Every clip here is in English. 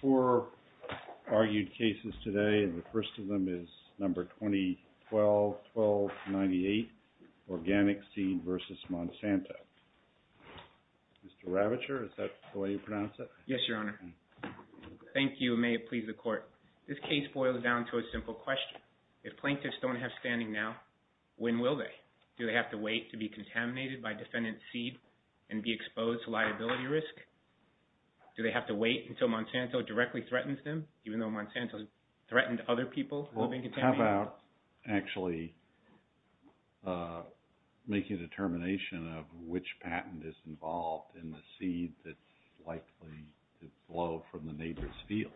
4 argued cases today, and the first of them is number 2012-12-98, ORGANIC SEED v. MONSANTO. Mr. Ravitcher, is that the way you pronounce it? Yes, Your Honor. Thank you, and may it please the Court. This case boils down to a simple question. If plaintiffs don't have standing now, when will they? Do they have to wait to be contaminated by defendant's seed and be exposed to liability risk? Do they have to wait until Monsanto directly threatens them, even though Monsanto has threatened other people who have been contaminated? How about actually making a determination of which patent is involved in the seed that's likely to blow from the neighbor's field?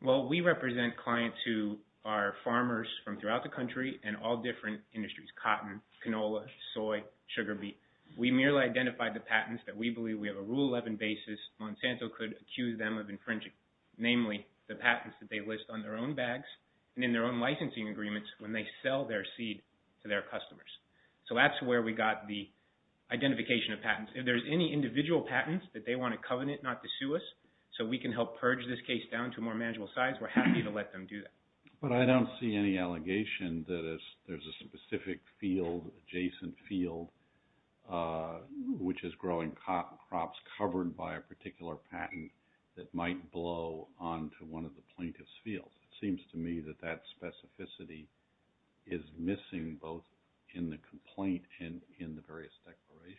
Well, we represent clients who are farmers from throughout the country and all different industries, cotton, canola, soy, sugar beet. We merely identified the patents that we believe we have a Rule 11 basis Monsanto could accuse them of infringing, namely the patents that they list on their own bags and in their own licensing agreements when they sell their seed to their customers. So that's where we got the identification of patents. If there's any individual patents that they want to covenant not to sue us so we can help purge this case down to a more manageable size, we're happy to let them do that. But I don't see any allegation that there's a specific field, adjacent field, which is growing cotton crops covered by a particular patent that might blow onto one of the plaintiff's fields. It seems to me that that specificity is missing both in the complaint and in the various declarations.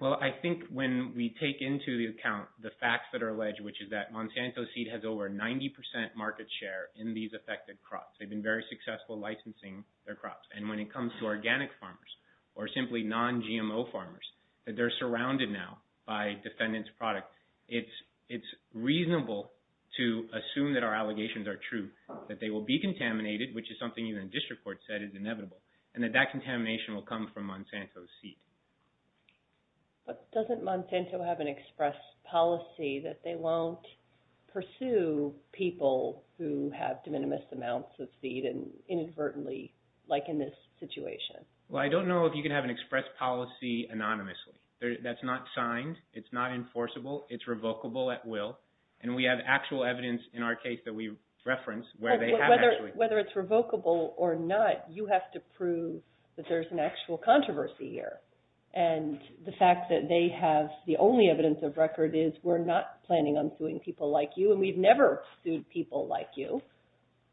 Well, I think when we take into account the facts that are alleged, which is that Monsanto's seed has over 90% market share in these affected crops. They've been very successful licensing their crops. And when it comes to organic farmers or simply non-GMO farmers, that they're surrounded now by defendant's product, it's reasonable to assume that our allegations are true, that they will be contaminated, which is something even district courts said is inevitable, and that that contamination will come from Monsanto's seed. But doesn't Monsanto have an express policy that they won't pursue people who have de minimis amounts of seed inadvertently, like in this situation? Well, I don't know if you can have an express policy anonymously. That's not signed. It's not enforceable. It's revocable at will. And we have actual evidence in our case that we reference where they have actually. Whether it's revocable or not, you have to prove that there's an actual controversy here. And the fact that they have the only evidence of record is we're not planning on suing people like you, and we've never sued people like you.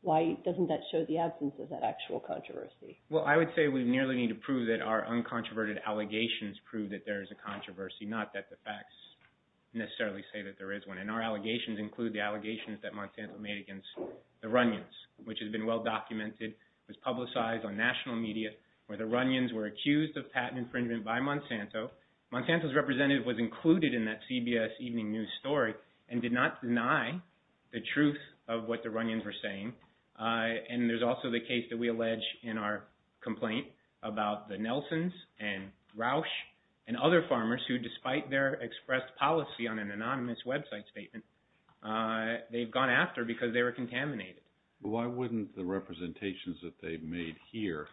Why doesn't that show the absence of that actual controversy? Well, I would say we nearly need to prove that our uncontroverted allegations prove that there is a controversy, not that the facts necessarily say that there is one. And our allegations include the allegations that Monsanto made against the Runyons, which has been well documented. It was publicized on national media where the Runyons were accused of patent infringement by Monsanto. Monsanto's representative was included in that CBS Evening News story and did not deny the truth of what the Runyons were saying. And there's also the case that we allege in our complaint about the Nelsons and Rausch and other farmers who, despite their expressed policy on an anonymous website statement, they've gone after because they were contaminated. Why wouldn't the representations that they've made here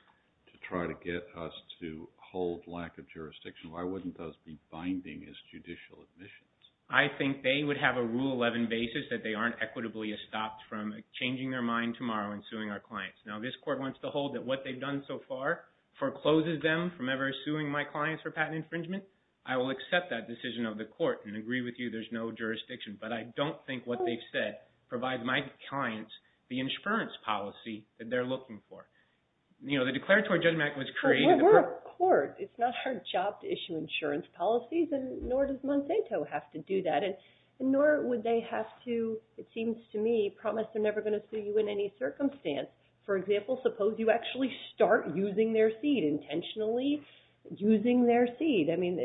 to try to get us to hold lack of jurisdiction, why wouldn't those be binding as judicial admissions? I think they would have a Rule 11 basis that they aren't equitably stopped from changing their mind tomorrow and suing our clients. Now, this court wants to hold that what they've done so far forecloses them from ever suing my clients for patent infringement. I will accept that decision of the court and agree with you there's no jurisdiction, but I don't think what they've said provides my clients the insurance policy that they're looking for. You know, the declaratory judgment was created. We're a court. It's not our job to issue insurance policies, and nor does Monsanto have to do that, and nor would they have to, it seems to me, promise they're never going to sue you in any circumstance. For example, suppose you actually start using their seed, intentionally using their seed. I mean,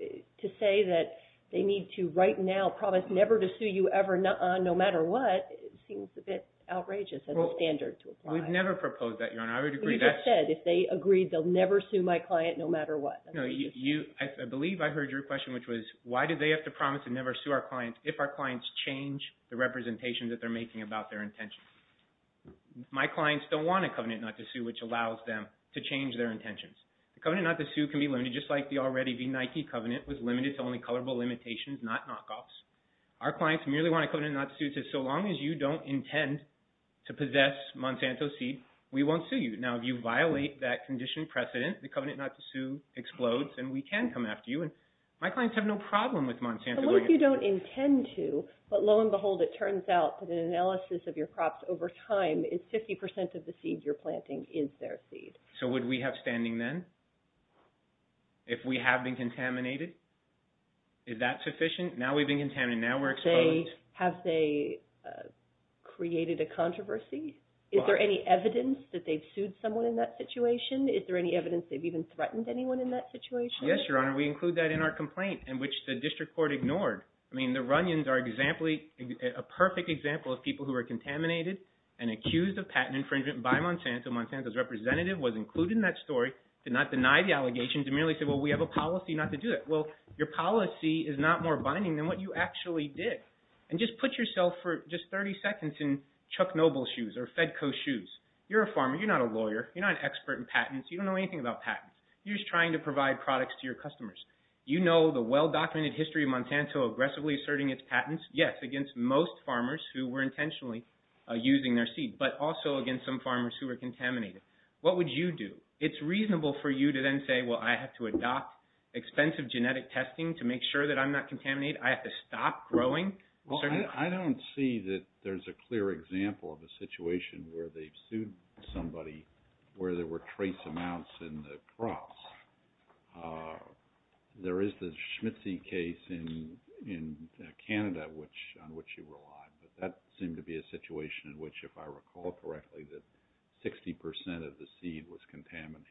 to say that they need to right now promise never to sue you ever, nuh-uh, no matter what, seems a bit outrageous as a standard to apply. We've never proposed that, Your Honor. I would agree that's… I would never sue my client no matter what. No, I believe I heard your question, which was, why do they have to promise to never sue our clients if our clients change the representation that they're making about their intentions? My clients don't want a covenant not to sue, which allows them to change their intentions. The covenant not to sue can be limited, just like the already-de-Nike covenant was limited to only colorable limitations, not knockoffs. Our clients merely want a covenant not to sue that says, so long as you don't intend to possess Monsanto's seed, we won't sue you. Now, if you violate that condition precedent, the covenant not to sue explodes, and we can come after you, and my clients have no problem with Monsanto going after you. So long as you don't intend to, but lo and behold, it turns out that an analysis of your crops over time is 50% of the seeds you're planting is their seed. So would we have standing then if we have been contaminated? Is that sufficient? Now we've been contaminated. Now we're exposed. Have they created a controversy? Is there any evidence that they've sued someone in that situation? Is there any evidence they've even threatened anyone in that situation? Yes, Your Honor. We include that in our complaint, which the district court ignored. I mean, the Runyons are a perfect example of people who were contaminated and accused of patent infringement by Monsanto. Monsanto's representative was included in that story, did not deny the allegations, and merely said, well, we have a policy not to do it. Well, your policy is not more binding than what you actually did. And just put yourself for just 30 seconds in Chuck Noble's shoes or Fedco's shoes. You're a farmer. You're not a lawyer. You're not an expert in patents. You don't know anything about patents. You're just trying to provide products to your customers. You know the well-documented history of Monsanto aggressively asserting its patents, yes, against most farmers who were intentionally using their seeds, but also against some farmers who were contaminated. What would you do? It's reasonable for you to then say, well, I have to adopt expensive genetic testing to make sure that I'm not contaminated. I have to stop growing. Well, I don't see that there's a clear example of a situation where they've sued somebody where there were trace amounts in the crops. There is the Schmitzy case in Canada on which you relied. But that seemed to be a situation in which, if I recall correctly, that 60 percent of the seed was contaminated.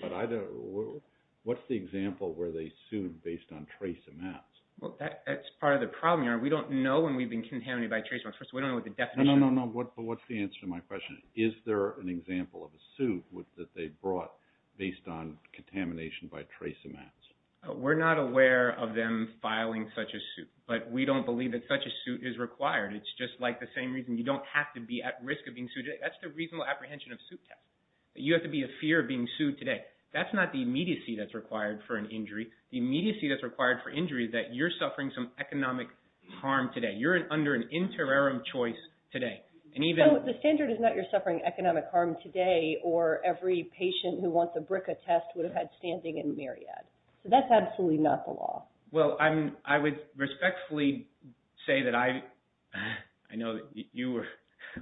But what's the example where they sued based on trace amounts? Well, that's part of the problem here. We don't know when we've been contaminated by trace amounts. First of all, we don't know what the definition is. No, no, no. But what's the answer to my question? Is there an example of a suit that they brought based on contamination by trace amounts? We're not aware of them filing such a suit. But we don't believe that such a suit is required. It's just like the same reason you don't have to be at risk of being sued. That's the reasonable apprehension of a suit test. You have to be in fear of being sued today. That's not the immediacy that's required for an injury. The immediacy that's required for injury is that you're suffering some economic harm today. You're under an interim choice today. So, the standard is not you're suffering economic harm today or every patient who wants a BRCA test would have had standing in Marriott. So, that's absolutely not the law. Well, I would respectfully say that I know that you were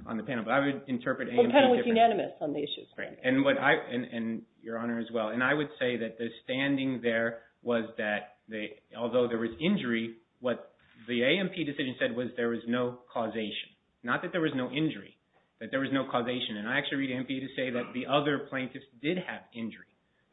on the panel, but I would interpret AMP differently. The panel was unanimous on the issue. Right. And your Honor as well. And I would say that the standing there was that although there was injury, what the AMP decision said was there was no causation. Not that there was no injury, but there was no causation. And I actually read AMP to say that the other plaintiffs did have injury.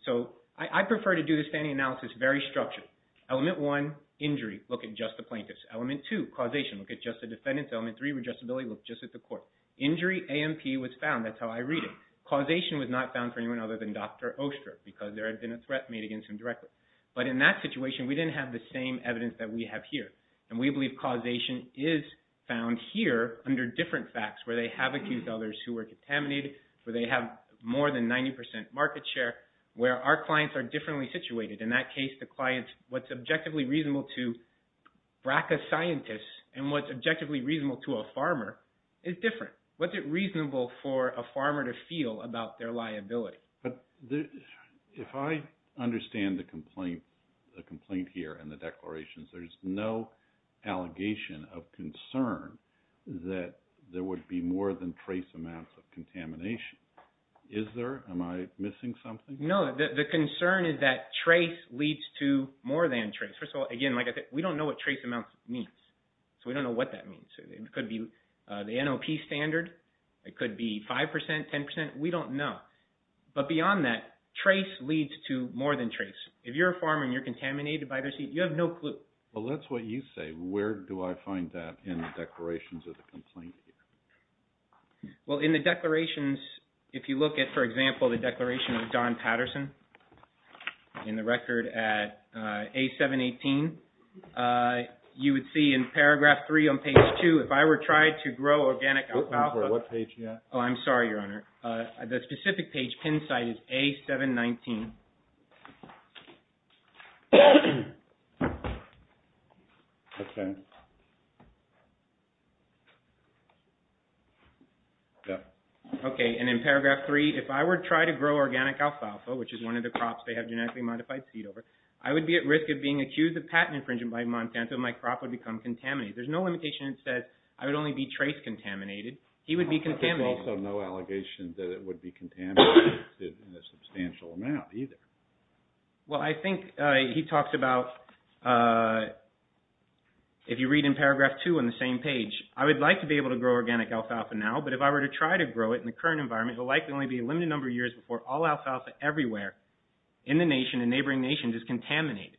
So, I prefer to do the standing analysis very structured. Element one, injury. Look at just the plaintiffs. Element two, causation. Look at just the defendants. Element three, readjustability. Look just at the court. Injury, AMP was found. That's how I read it. Causation was not found for anyone other than Dr. Oster because there had been a threat made against him directly. But in that situation, we didn't have the same evidence that we have here. And we believe causation is found here under different facts where they have accused others who were contaminated, where they have more than 90% market share, where our clients are differently situated. In that case, the clients, what's objectively reasonable to BRACA scientists and what's objectively reasonable to a farmer is different. What's reasonable for a farmer to feel about their liability? If I understand the complaint here and the declarations, there's no allegation of concern that there would be more than trace amounts of contamination. Is there? Am I missing something? No. The concern is that trace leads to more than trace. First of all, again, we don't know what trace amounts means. So, we don't know what that means. It could be the NOP standard. It could be 5%, 10%. We don't know. But beyond that, trace leads to more than trace. If you're a farmer and you're contaminated by this, you have no clue. Well, that's what you say. Where do I find that in the declarations of the complaint here? Well, in the declarations, if you look at, for example, the declaration of Don Patterson in the record at A718, you would see in paragraph 3 on page 2, if I were to try to grow organic alfalfa… What page are you at? Oh, I'm sorry, Your Honor. The specific page, pin site, is A719. Okay, and in paragraph 3, if I were to try to grow organic alfalfa, which is one of the crops they have genetically modified seed over, I would be at risk of being accused of patent infringement by Monsanto and my crop would become contaminated. There's no limitation that says I would only be trace contaminated. He would be contaminated. There's also no allegation that it would be contaminated in a substantial amount either. Well, I think he talks about, if you read in paragraph 2 on the same page, I would like to be able to grow organic alfalfa now, but if I were to try to grow it in the current environment, it will likely only be a limited number of years before all alfalfa everywhere in the nation and neighboring nations is contaminated.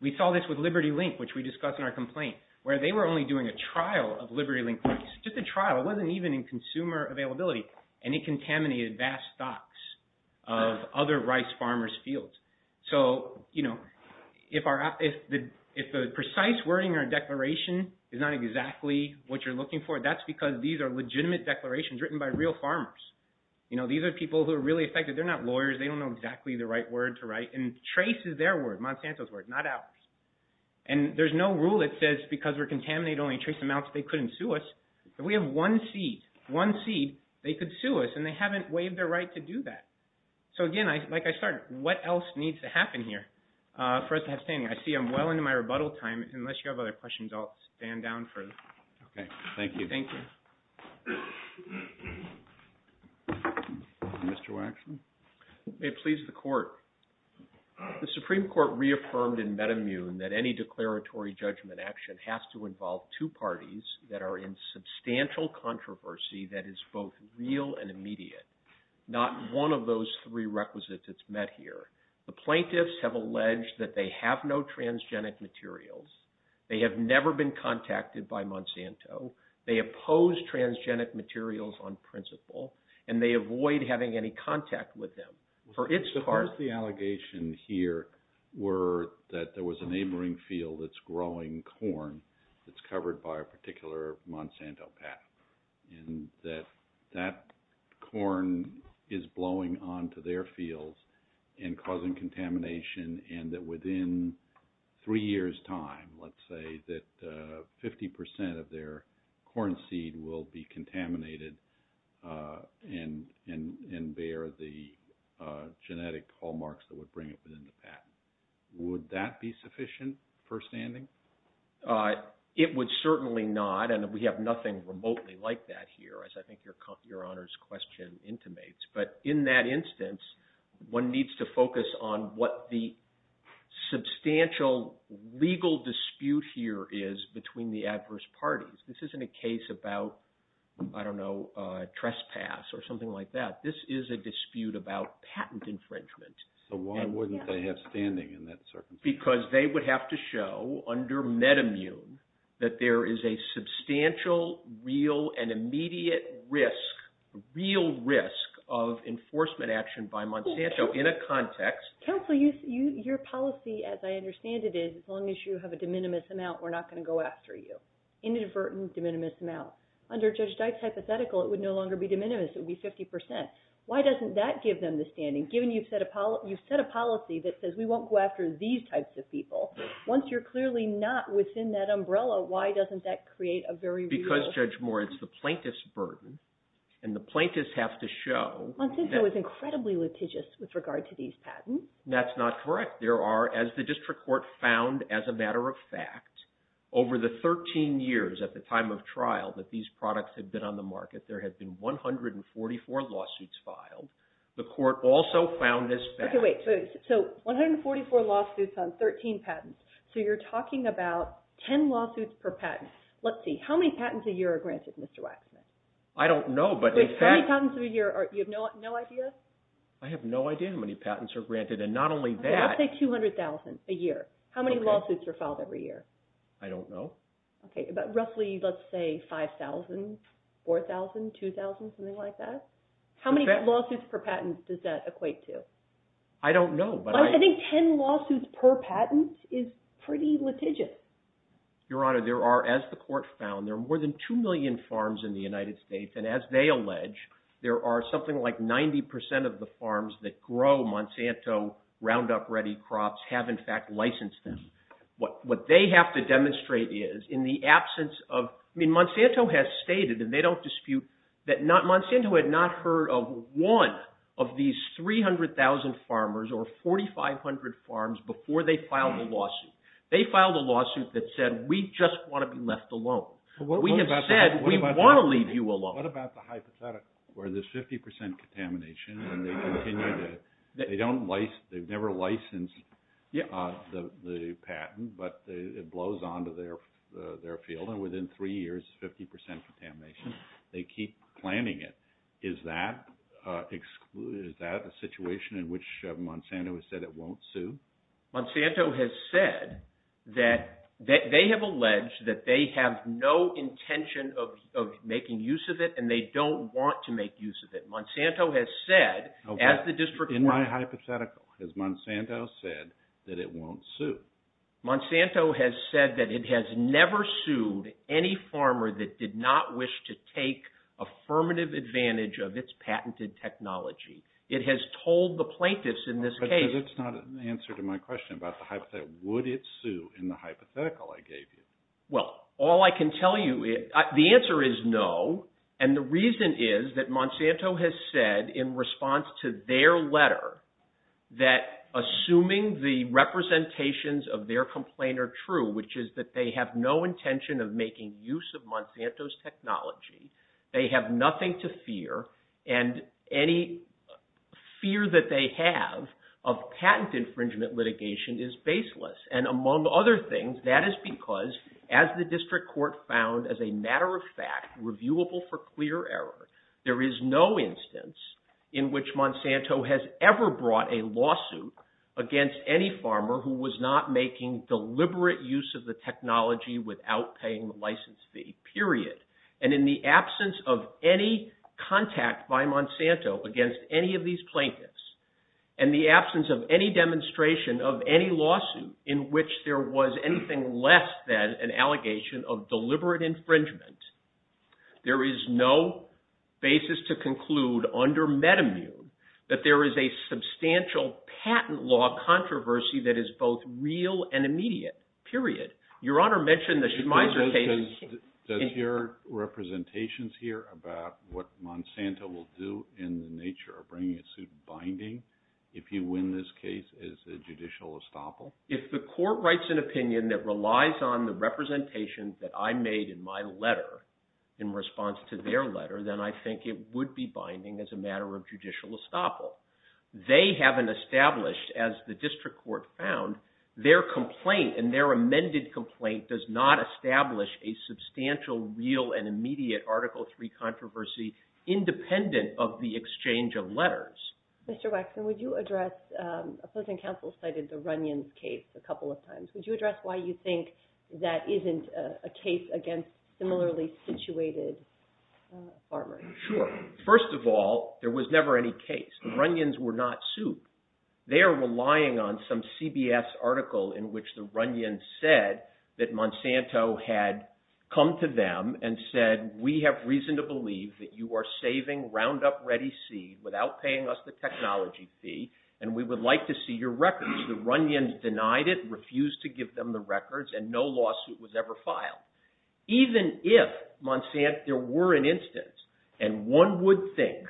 We saw this with Liberty Link, which we discussed in our complaint, where they were only doing a trial of Liberty Link rice. Just a trial. It wasn't even in consumer availability, and it contaminated vast stocks of other rice farmers' fields. So, you know, if the precise wording in our declaration is not exactly what you're looking for, that's because these are legitimate declarations written by real farmers. You know, these are people who are really effective. They're not lawyers. They don't know exactly the right word to write, and trace is their word. Monsanto's word, not ours. And there's no rule that says because we're contaminated, only trace amounts. They couldn't sue us. If we have one seed, one seed, they could sue us, and they haven't waived their right to do that. So, again, like I said, what else needs to happen here for us to have standing? I see I'm well into my rebuttal time. Unless you have other questions, I'll stand down further. Okay. Thank you. Mr. Waxman? May it please the Court. The Supreme Court reaffirmed in Metamune that any declaratory judgment action has to involve two parties that are in substantial controversy that is both real and immediate, not one of those three requisites that's met here. The plaintiffs have alleged that they have no transgenic materials. They have never been contacted by Monsanto. They oppose transgenic materials on principle, and they avoid having any contact with them. The first of the allegations here were that there was a neighboring field that's growing corn that's covered by a particular Monsanto path, and that that corn is blowing onto their fields and causing contamination, and that within three years' time, let's say, that 50 percent of their corn seed will be contaminated and bear the genetic hallmarks that would bring it within the patent. Would that be sufficient for standing? It would certainly not, and we have nothing remotely like that here, as I think your Honor's question intimates. But in that instance, one needs to focus on what the substantial legal dispute here is between the adverse parties. This isn't a case about, I don't know, trespass or something like that. This is a dispute about patent infringement. So why wouldn't they have standing in that circumstance? Because they would have to show under MedImmune that there is a substantial, real, and immediate risk, real risk of enforcement action by Monsanto in a context. Counsel, your policy, as I understand it, is as long as you have a de minimis amount, we're not going to go after you. Inadvertent de minimis amount. Under Judge Dyke's hypothetical, it would no longer be de minimis. It would be 50 percent. Why doesn't that give them the standing? Given you've set a policy that says we won't go after these types of people, once you're clearly not within that umbrella, why doesn't that create a very real… Because, Judge Moore, it's the plaintiff's burden, and the plaintiffs have to show… Monsanto is incredibly litigious with regard to these patents. That's not correct. There are, as the district court found as a matter of fact, over the 13 years at the time of trial that these products had been on the market, there had been 144 lawsuits filed. The court also found as fact… Okay, wait. So, 144 lawsuits on 13 patents. So, you're talking about 10 lawsuits per patent. Let's see. How many patents a year are granted, Mr. Waxman? I don't know, but in fact… How many patents a year? You have no idea? I have no idea how many patents are granted, and not only that… Okay, let's say 200,000 a year. How many lawsuits are filed every year? I don't know. Okay, but roughly, let's say 5,000, 4,000, 2,000, something like that? How many lawsuits per patent does that equate to? I don't know, but I… I think 10 lawsuits per patent is pretty litigious. Your Honor, there are, as the court found, there are more than 2 million farms in the United States, and as they allege, there are something like 90% of the farms that grow Monsanto Roundup Ready crops have in fact licensed them. What they have to demonstrate is, in the absence of… I mean, Monsanto has stated, and they don't dispute, that Monsanto had not heard of one of these 300,000 farmers or 4,500 farms before they filed the lawsuit. They filed a lawsuit that said, we just want to be left alone. We have said, we want to leave you alone. What about the hypothetical where there's 50% contamination and they continue to… They don't license… They've never licensed the patent, but it blows onto their field, and within three years, 50% contamination. They keep planning it. Is that a situation in which Monsanto has said it won't sue? Monsanto has said that they have alleged that they have no intention of making use of it, and they don't want to make use of it. Monsanto has said, as the district… In my hypothetical, has Monsanto said that it won't sue? Monsanto has said that it has never sued any farmer that did not wish to take affirmative advantage of its patented technology. It has told the plaintiffs in this case… Because it's not an answer to my question about the hypothetical. Would it sue in the hypothetical I gave you? Well, all I can tell you… The answer is no, and the reason is that Monsanto has said in response to their letter that, assuming the representations of their complaint are true, which is that they have no intention of making use of Monsanto's technology, they have nothing to fear, and any fear that they have of patent infringement litigation is baseless. And among other things, that is because, as the district court found as a matter of fact, reviewable for clear error, there is no instance in which Monsanto has ever brought a lawsuit against any farmer who was not making deliberate use of the technology without paying the license fee, period. And in the absence of any contact by Monsanto against any of these plaintiffs, and the absence of any demonstration of any lawsuit in which there was anything less than an allegation of deliberate infringement, there is no basis to conclude under Metamune that there is a substantial patent law controversy that is both real and immediate, period. Does your representations here about what Monsanto will do in the nature of bringing a suit binding if you win this case as a judicial estoppel? If the court writes an opinion that relies on the representations that I made in my letter in response to their letter, then I think it would be binding as a matter of judicial estoppel. They haven't established, as the district court found, their complaint and their amended complaint does not establish a substantial real and immediate Article III controversy independent of the exchange of letters. Mr. Waxman, would you address, a person counsel cited the Runyon's case a couple of times. Would you address why you think that isn't a case against similarly situated farmers? Sure. First of all, there was never any case. The Runyons were not sued. They are relying on some CBS article in which the Runyons said that Monsanto had come to them and said, we have reason to believe that you are saving Roundup Ready C without paying us the technology fee, and we would like to see your records. The Runyons denied it, refused to give them the records, and no lawsuit was ever filed. Even if there were an instance, and one would think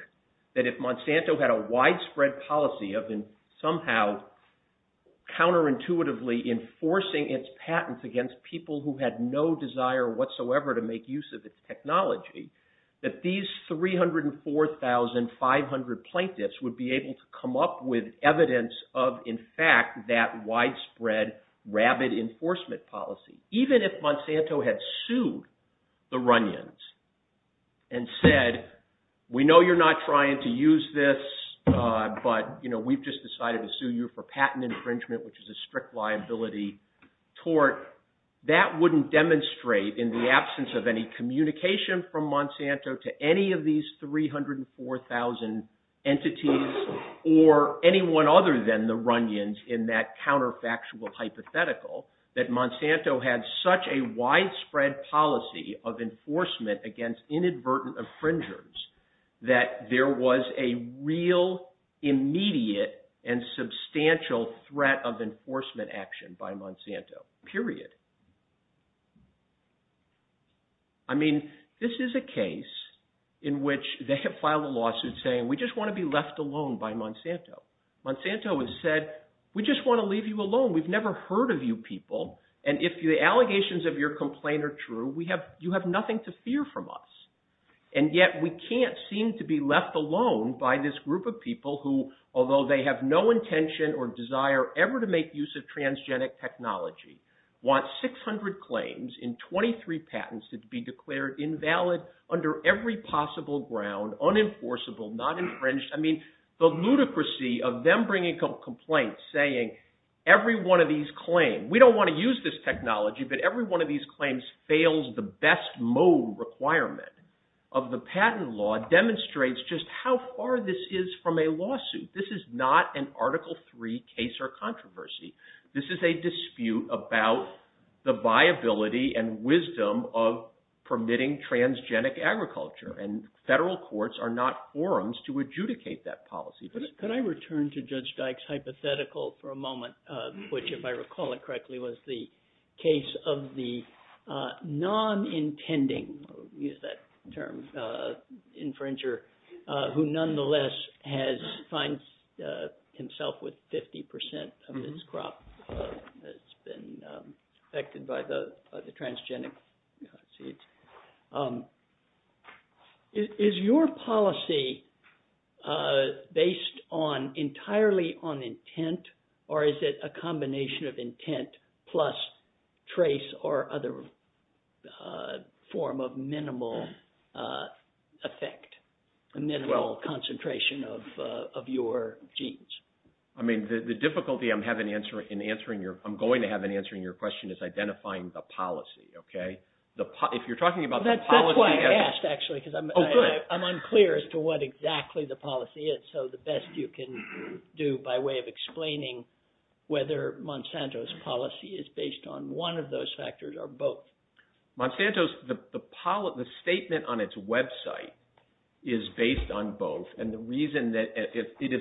that if Monsanto had a widespread policy of somehow counterintuitively enforcing its patents against people who had no desire whatsoever to make use of its technology, that these 304,500 plaintiffs would be able to come up with evidence of, in fact, that widespread rabid enforcement policy. Even if Monsanto had sued the Runyons and said, we know you're not trying to use this, but we've just decided to sue you for patent infringement, which is a strict liability tort, that wouldn't demonstrate in the absence of any communication from Monsanto to any of these 304,000 entities or anyone other than the Runyons in that counterfactual hypothetical that Monsanto had such a widespread policy of enforcement against inadvertent infringers that there was a real, immediate, and substantial threat of enforcement action by Monsanto, period. I mean, this is a case in which they have filed a lawsuit saying, we just want to be left alone by Monsanto. Monsanto has said, we just want to leave you alone. We've never heard of you people. And if the allegations of your complaint are true, you have nothing to fear from us. And yet we can't seem to be left alone by this group of people who, although they have no intention or desire ever to make use of transgenic technology, want 600 claims in 23 patents to be declared invalid under every possible ground, unenforceable, not infringed. I mean, the ludicrously of them bringing up complaints saying, every one of these claims, we don't want to use this technology, but every one of these claims fails the best mode requirement of the patent law, demonstrates just how far this is from a lawsuit. This is not an Article III case or controversy. This is a dispute about the viability and wisdom of permitting transgenic agriculture, and federal courts are not forums to adjudicate that policy. Could I return to Judge Dyke's hypothetical for a moment, which, if I recall it correctly, was the case of the non-intending, we'll use that term, infringer, who nonetheless has fined himself with 50 percent of his crop that's been affected by the transgenic seeds. Is your policy based entirely on intent, or is it a combination of intent plus trace or other form of minimal effect, a minimal concentration of your genes? I mean, the difficulty I'm going to have in answering your question is identifying the policy. That's why I asked, actually, because I'm unclear as to what exactly the policy is, so the best you can do by way of explaining whether Monsanto's policy is based on one of those factors or both. Monsanto's, the statement on its website is based on both, and the reason that it is,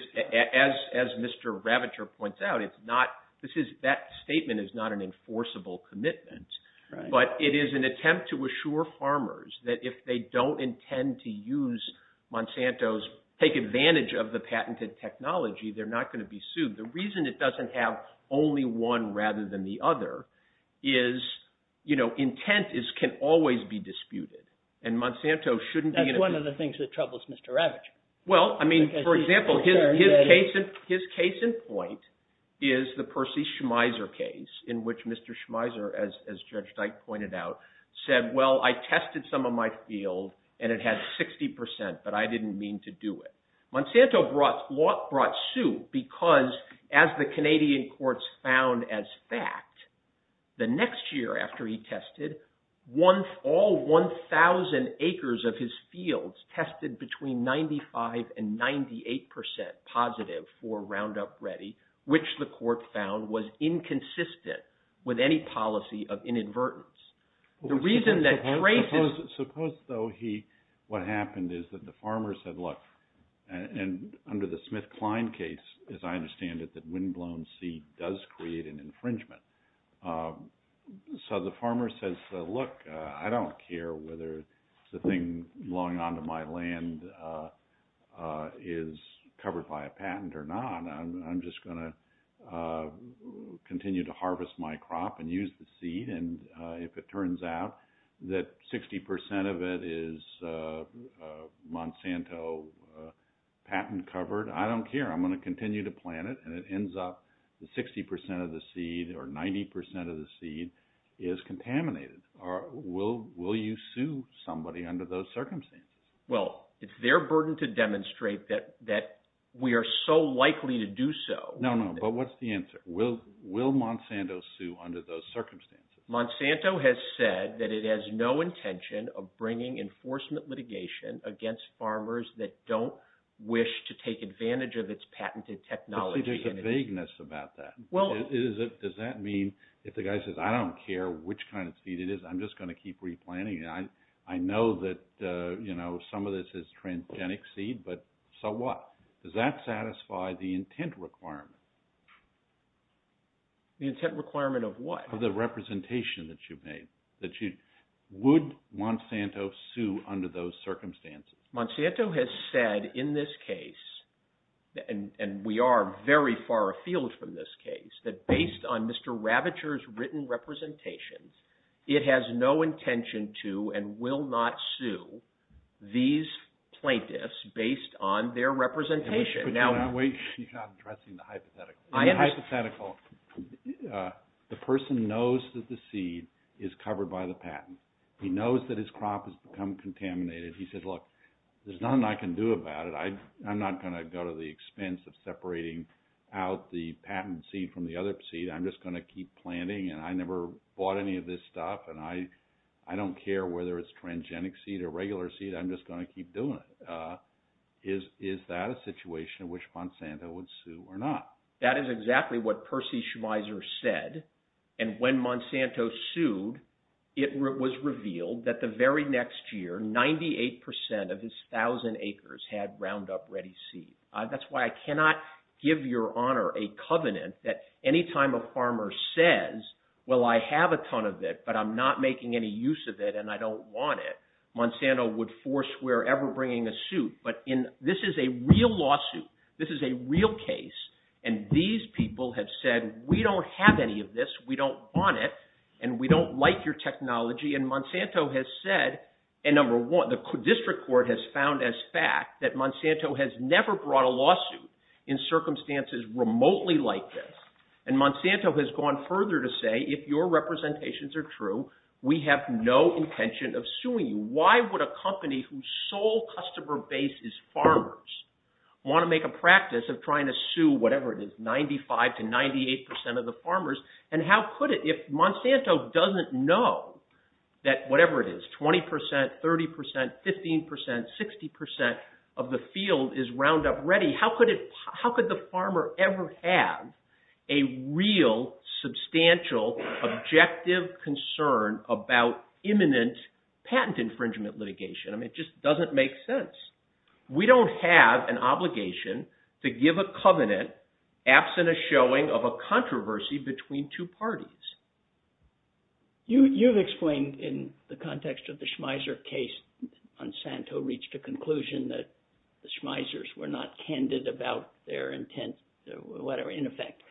as Mr. Ravitcher points out, that statement is not an enforceable commitment. But it is an attempt to assure farmers that if they don't intend to use Monsanto's, take advantage of the patented technology, they're not going to be sued. The reason it doesn't have only one rather than the other is, you know, intent can always be disputed, and Monsanto shouldn't be- That's one of the things that troubles Mr. Ravitcher. Well, I mean, for example, his case in point is the Percy Schmeiser case, in which Mr. Schmeiser, as Judge Dyke pointed out, said, well, I tested some of my field, and it had 60 percent, but I didn't mean to do it. Monsanto brought suit because, as the Canadian courts found as fact, the next year after he tested, all 1,000 acres of his fields tested between 95 and 98 percent positive for Roundup Ready, which the court found was inconsistent with any policy of inadvertence. The reason that- Suppose, though, what happened is that the farmer said, look, and under the Smith-Klein case, as I understand it, that windblown seed does create an infringement. So the farmer says, look, I don't care whether the thing belonging onto my land is covered by a patent or not. I'm just going to continue to harvest my crop and use the seed, and if it turns out that 60 percent of it is Monsanto patent covered, I don't care. I'm going to continue to plant it, and it ends up that 60 percent of the seed or 90 percent of the seed is contaminated. Will you sue somebody under those circumstances? Well, it's their burden to demonstrate that we are so likely to do so. No, no, but what's the answer? Will Monsanto sue under those circumstances? Monsanto has said that it has no intention of bringing enforcement litigation against farmers that don't wish to take advantage of its patented technology. There's a vagueness about that. Does that mean if the guy says, I don't care which kind of seed it is, I'm just going to keep replanting it. I know that some of this is transgenic seed, but so what? Does that satisfy the intent requirement? The intent requirement of what? On top of the representation that you've made, would Monsanto sue under those circumstances? Monsanto has said in this case, and we are very far afield from this case, that based on Mr. Ravitcher's written representations, it has no intention to and will not sue these plaintiffs based on their representation. Wait, you're not addressing the hypothetical. The person knows that the seed is covered by the patent. He knows that his crop has become contaminated. He says, look, there's nothing I can do about it. I'm not going to go to the expense of separating out the patent seed from the other seed. I'm just going to keep planting, and I never bought any of this stuff, and I don't care whether it's transgenic seed or regular seed. I'm just going to keep doing it. Is that a situation in which Monsanto would sue or not? That is exactly what Percy Schmeiser said, and when Monsanto sued, it was revealed that the very next year, 98 percent of his thousand acres had Roundup Ready seed. That's why I cannot give your honor a covenant that any time a farmer says, well, I have a ton of it, but I'm not making any use of it, and I don't want it, Monsanto would forswear ever bringing a suit, but this is a real lawsuit. This is a real case, and these people have said, we don't have any of this. We don't want it, and we don't like your technology, and Monsanto has said, and number one, the district court has found as fact that Monsanto has never brought a lawsuit in circumstances remotely like this, and Monsanto has gone further to say, if your representations are true, we have no intention of suing you. Why would a company whose sole customer base is farmers want to make a practice of trying to sue whatever it is, 95 to 98 percent of the farmers, and how could it, if Monsanto doesn't know that whatever it is, 20 percent, 30 percent, 15 percent, 60 percent of the field is Roundup Ready, how could the farmer ever have a real, substantial, objective concern about imminent patent infringement litigation? I mean, it just doesn't make sense. We don't have an obligation to give a covenant absent a showing of a controversy between two parties. You've explained in the context of the Schmeisser case, Monsanto reached a conclusion that the Schmeissers were not candid about their intent, whatever, in effect,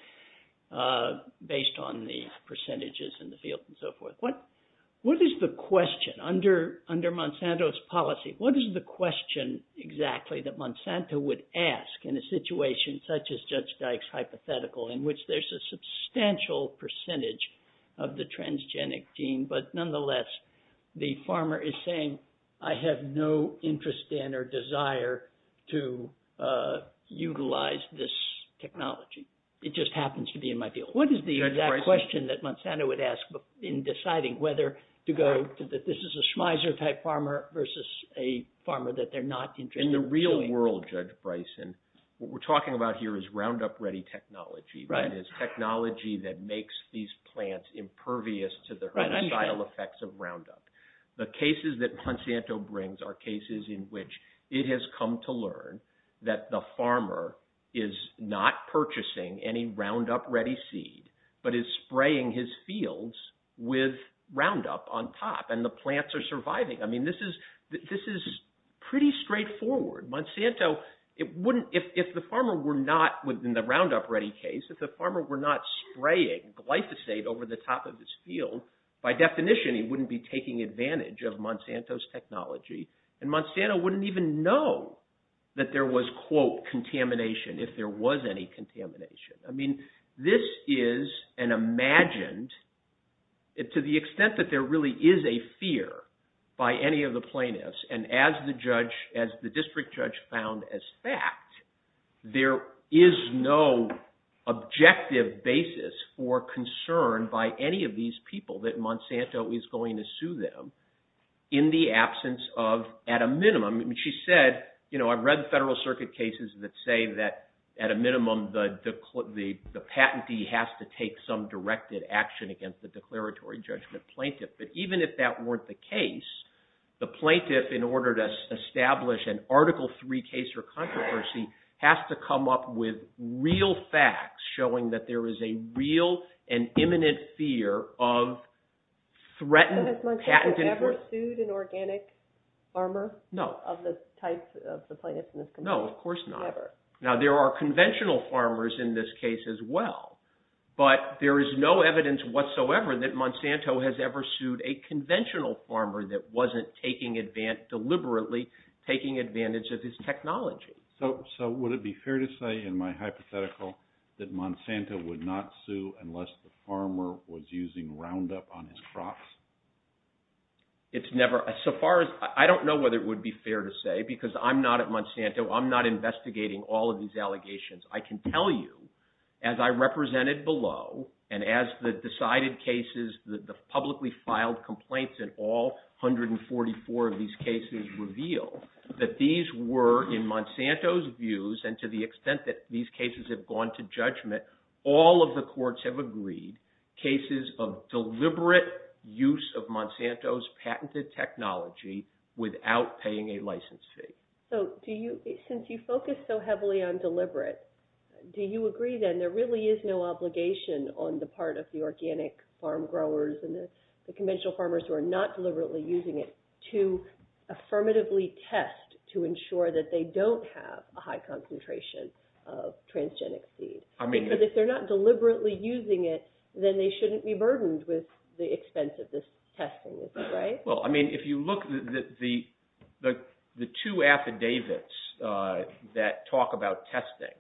based on the percentages in the field and so forth. What is the question, under Monsanto's policy, what is the question exactly that Monsanto would ask in a situation such as Judge Dyke's hypothetical, in which there's a substantial percentage of the transgenic gene, but nonetheless, the farmer is saying, I have no interest in or desire to utilize this technology. It just happens to be in my field. What is the exact question that Monsanto would ask in deciding whether to go that this is a Schmeisser type farmer versus a farmer that they're not interested in doing? But is spraying his fields with Roundup on top, and the plants are surviving. I mean, this is pretty straightforward. Monsanto, if the farmer were not, in the Roundup Ready case, if the farmer were not spraying glyphosate over the top of his field, by definition, he wouldn't be taking advantage of Monsanto's technology. And Monsanto wouldn't even know that there was, quote, contamination, if there was any contamination. I mean, this is an imagined, to the extent that there really is a fear by any of the plaintiffs, and as the district judge found as fact, there is no objective basis for concern by any of these people that Monsanto is going to sue them, in the absence of, at a minimum. I mean, she said, you know, I've read the Federal Circuit cases that say that, at a minimum, the patentee has to take some directed action against the declaratory judgment plaintiff. But even if that weren't the case, the plaintiff, in order to establish an Article III case or controversy, has to come up with real facts, showing that there is a real and imminent fear of threatened patent enforcement. No, of course not. Now, there are conventional farmers in this case as well. But there is no evidence whatsoever that Monsanto has ever sued a conventional farmer that wasn't deliberately taking advantage of his technology. So, would it be fair to say, in my hypothetical, that Monsanto would not sue unless the farmer was using Roundup on his crops? It's never – so far as – I don't know whether it would be fair to say, because I'm not at Monsanto. I'm not investigating all of these allegations. I can tell you, as I represented below, and as the decided cases, the publicly filed complaints in all 144 of these cases reveal, that these were, in Monsanto's views, and to the extent that these cases have gone to judgment, all of the courts have agreed, cases of deliberate use of Monsanto's patented technology without paying a license fee. So, do you – since you focus so heavily on deliberate, do you agree, then, there really is no obligation on the part of the organic farm growers and the conventional farmers who are not deliberately using it to affirmatively test to ensure that they don't have a high concentration of transgenic seed? I mean – Because if they're not deliberately using it, then they shouldn't be burdened with the expense of this testing, right? Well, I mean, if you look – the two affidavits that talk about testing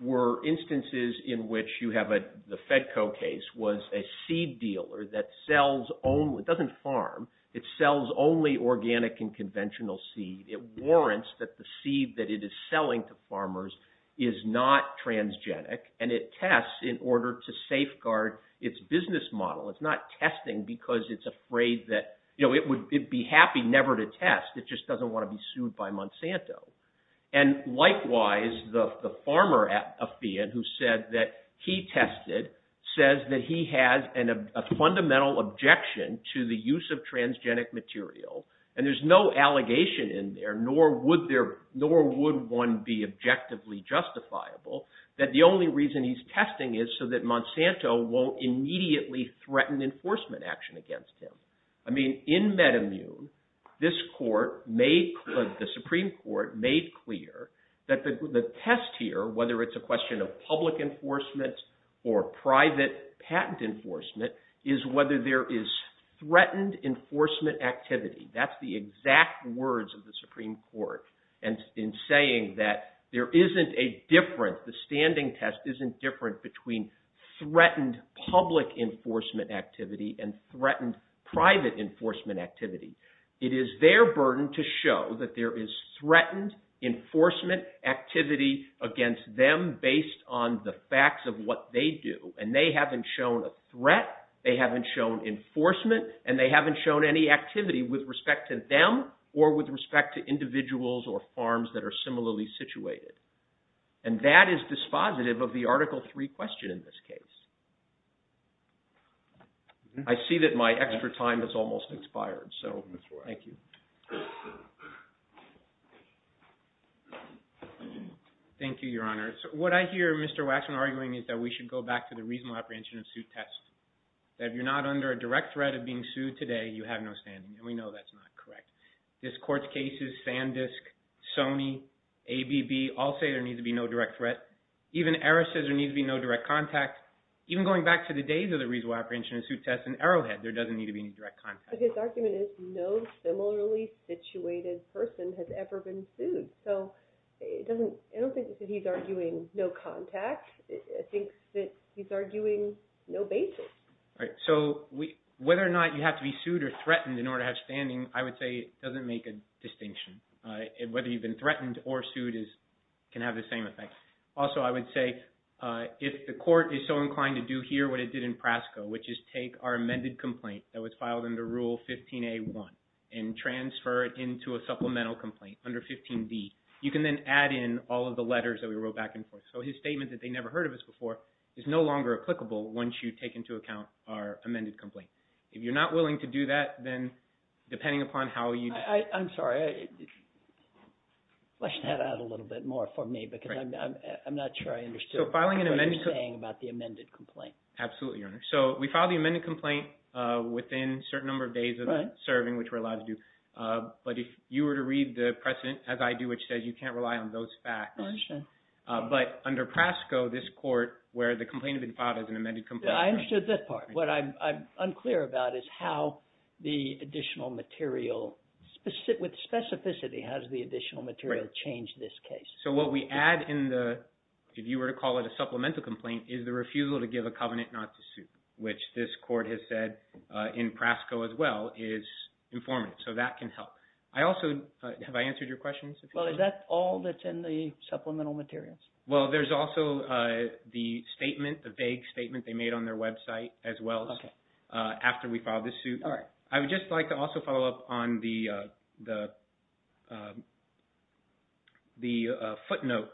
were instances in which you have a – the Fedco case was a seed dealer that sells only – it doesn't farm. It sells only organic and conventional seed. It warrants that the seed that it is selling to farmers is not transgenic, and it tests in order to safeguard its business model. It's not testing because it's afraid that – it would be happy never to test. It just doesn't want to be sued by Monsanto. And likewise, the farmer affidavit who said that he tested says that he has a fundamental objection to the use of transgenic material, and there's no allegation in there, nor would there – nor would one be objectively justifiable that the only reason he's testing is so that Monsanto won't immediately threaten enforcement action against him. I mean, in MedImmune, this court made – the Supreme Court made clear that the test here, whether it's a question of public enforcement or private patent enforcement, is whether there is threatened enforcement activity. That's the exact words of the Supreme Court in saying that there isn't a difference – the standing test isn't different between threatened public enforcement activity and threatened private enforcement activity. It is their burden to show that there is threatened enforcement activity against them based on the facts of what they do, and they haven't shown a threat, they haven't shown enforcement, and they haven't shown any activity with respect to them or with respect to individuals or farms that are similarly situated. And that is dispositive of the Article III question in this case. I see that my extra time has almost expired, so thank you. Thank you, Your Honor. What I hear Mr. Waxman arguing is that we should go back to the reasonable apprehension of suit test, that if you're not under a direct threat of being sued today, you have no standing, and we know that's not correct. This court's cases, Sandisk, Sony, ABB, all say there needs to be no direct threat. Even Eris says there needs to be no direct contact. Even going back to the days of the reasonable apprehension of suit test in Arrowhead, there doesn't need to be any direct contact. But his argument is no similarly situated person has ever been sued. So I don't think that he's arguing no contact. I think that he's arguing no basis. So whether or not you have to be sued or threatened in order to have standing, I would say doesn't make a distinction. Whether you've been threatened or sued can have the same effect. Also, I would say if the court is so inclined to do here what it did in Prasco, which is take our amended complaint that was filed under Rule 15a.1 and transfer it into a supplemental complaint under 15d, you can then add in all of the letters that we wrote back and forth. So his statement that they never heard of us before is no longer applicable once you take into account our amended complaint. If you're not willing to do that, then depending upon how you – I'm sorry, flesh that out a little bit more for me because I'm not sure I understood what you're saying about the amended complaint. Absolutely, Your Honor. So we filed the amended complaint within a certain number of days of serving, which we're allowed to do. But if you were to read the precedent, as I do, which says you can't rely on those facts. I understand. But under Prasco, this court, where the complaint had been filed as an amended complaint – I understood this part. What I'm unclear about is how the additional material – with specificity, how does the additional material change this case? So what we add in the – if you were to call it a supplemental complaint, is the refusal to give a covenant not to suit, which this court has said in Prasco as well is informative. So that can help. I also – have I answered your question? Well, is that all that's in the supplemental materials? Well, there's also the statement, the vague statement they made on their website as well as after we filed the suit. All right. I would just like to also follow up on the footnote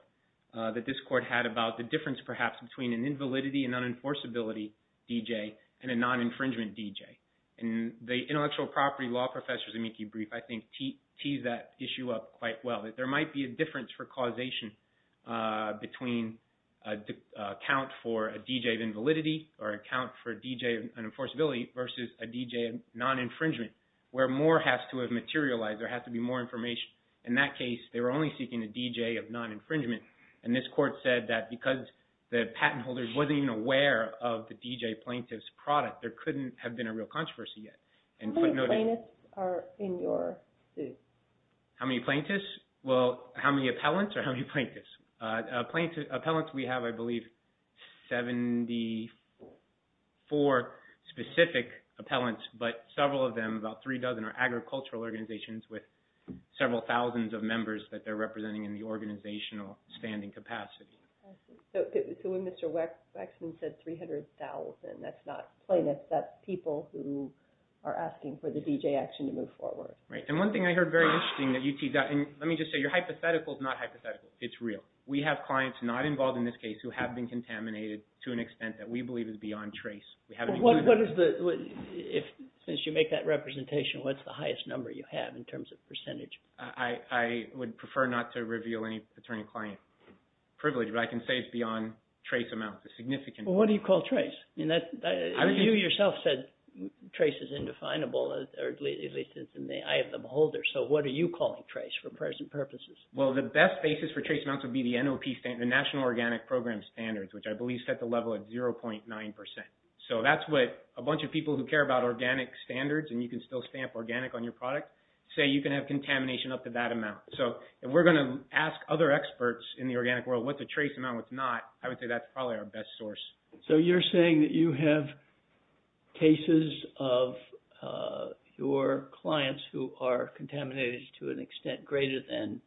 that this court had about the difference perhaps between an invalidity and unenforceability DJ and a non-infringement DJ. And the intellectual property law professor, Zemecki Brief, I think tees that issue up quite well. There might be a difference for causation between an account for a DJ of invalidity or an account for a DJ of unenforceability versus a DJ of non-infringement, where more has to have materialized. There has to be more information. In that case, they were only seeking a DJ of non-infringement. And this court said that because the patent holder wasn't even aware of the DJ plaintiff's product, there couldn't have been a real controversy yet. How many plaintiffs are in your suit? How many plaintiffs? Well, how many appellants or how many plaintiffs? Appellants, we have, I believe, 74 specific appellants, but several of them, about three dozen, are agricultural organizations with several thousands of members that they're representing in the organizational standing capacity. So when Mr. Waxman said 300,000, that's not plaintiffs. That's people who are asking for the DJ action to move forward. Right. And one thing I heard very interesting that you teased out, and let me just say, your hypothetical is not hypothetical. It's real. We have clients not involved in this case who have been contaminated to an extent that we believe is beyond trace. What is the, since you make that representation, what's the highest number you have in terms of percentage? I would prefer not to reveal any attorney-client privilege, but I can say it's beyond trace amounts, a significant amount. Well, what do you call trace? You yourself said trace is indefinable, or at least in the eye of the beholder. So what are you calling trace for present purposes? Well, the best basis for trace amounts would be the NOP standard, the National Organic Program standards, which I believe set the level at 0.9%. So that's what a bunch of people who care about organic standards, and you can still stamp organic on your product, say you can have contamination up to that amount. So if we're going to ask other experts in the organic world what's a trace amount, what's not, I would say that's probably our best source. So you're saying that you have cases of your clients who are contaminated to an extent greater than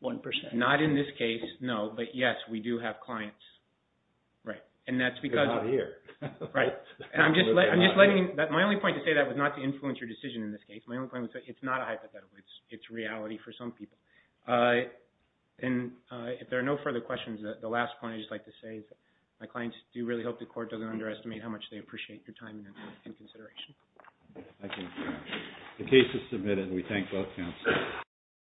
1%. Not in this case, no. But, yes, we do have clients. Right. And that's because – They're not here. Right. And I'm just letting – my only point to say that was not to influence your decision in this case. My only point was that it's not a hypothetical. It's reality for some people. And if there are no further questions, the last point I'd just like to say is my clients do really hope the court doesn't underestimate how much they appreciate your time and consideration. Thank you. The case is submitted. We thank both counsels.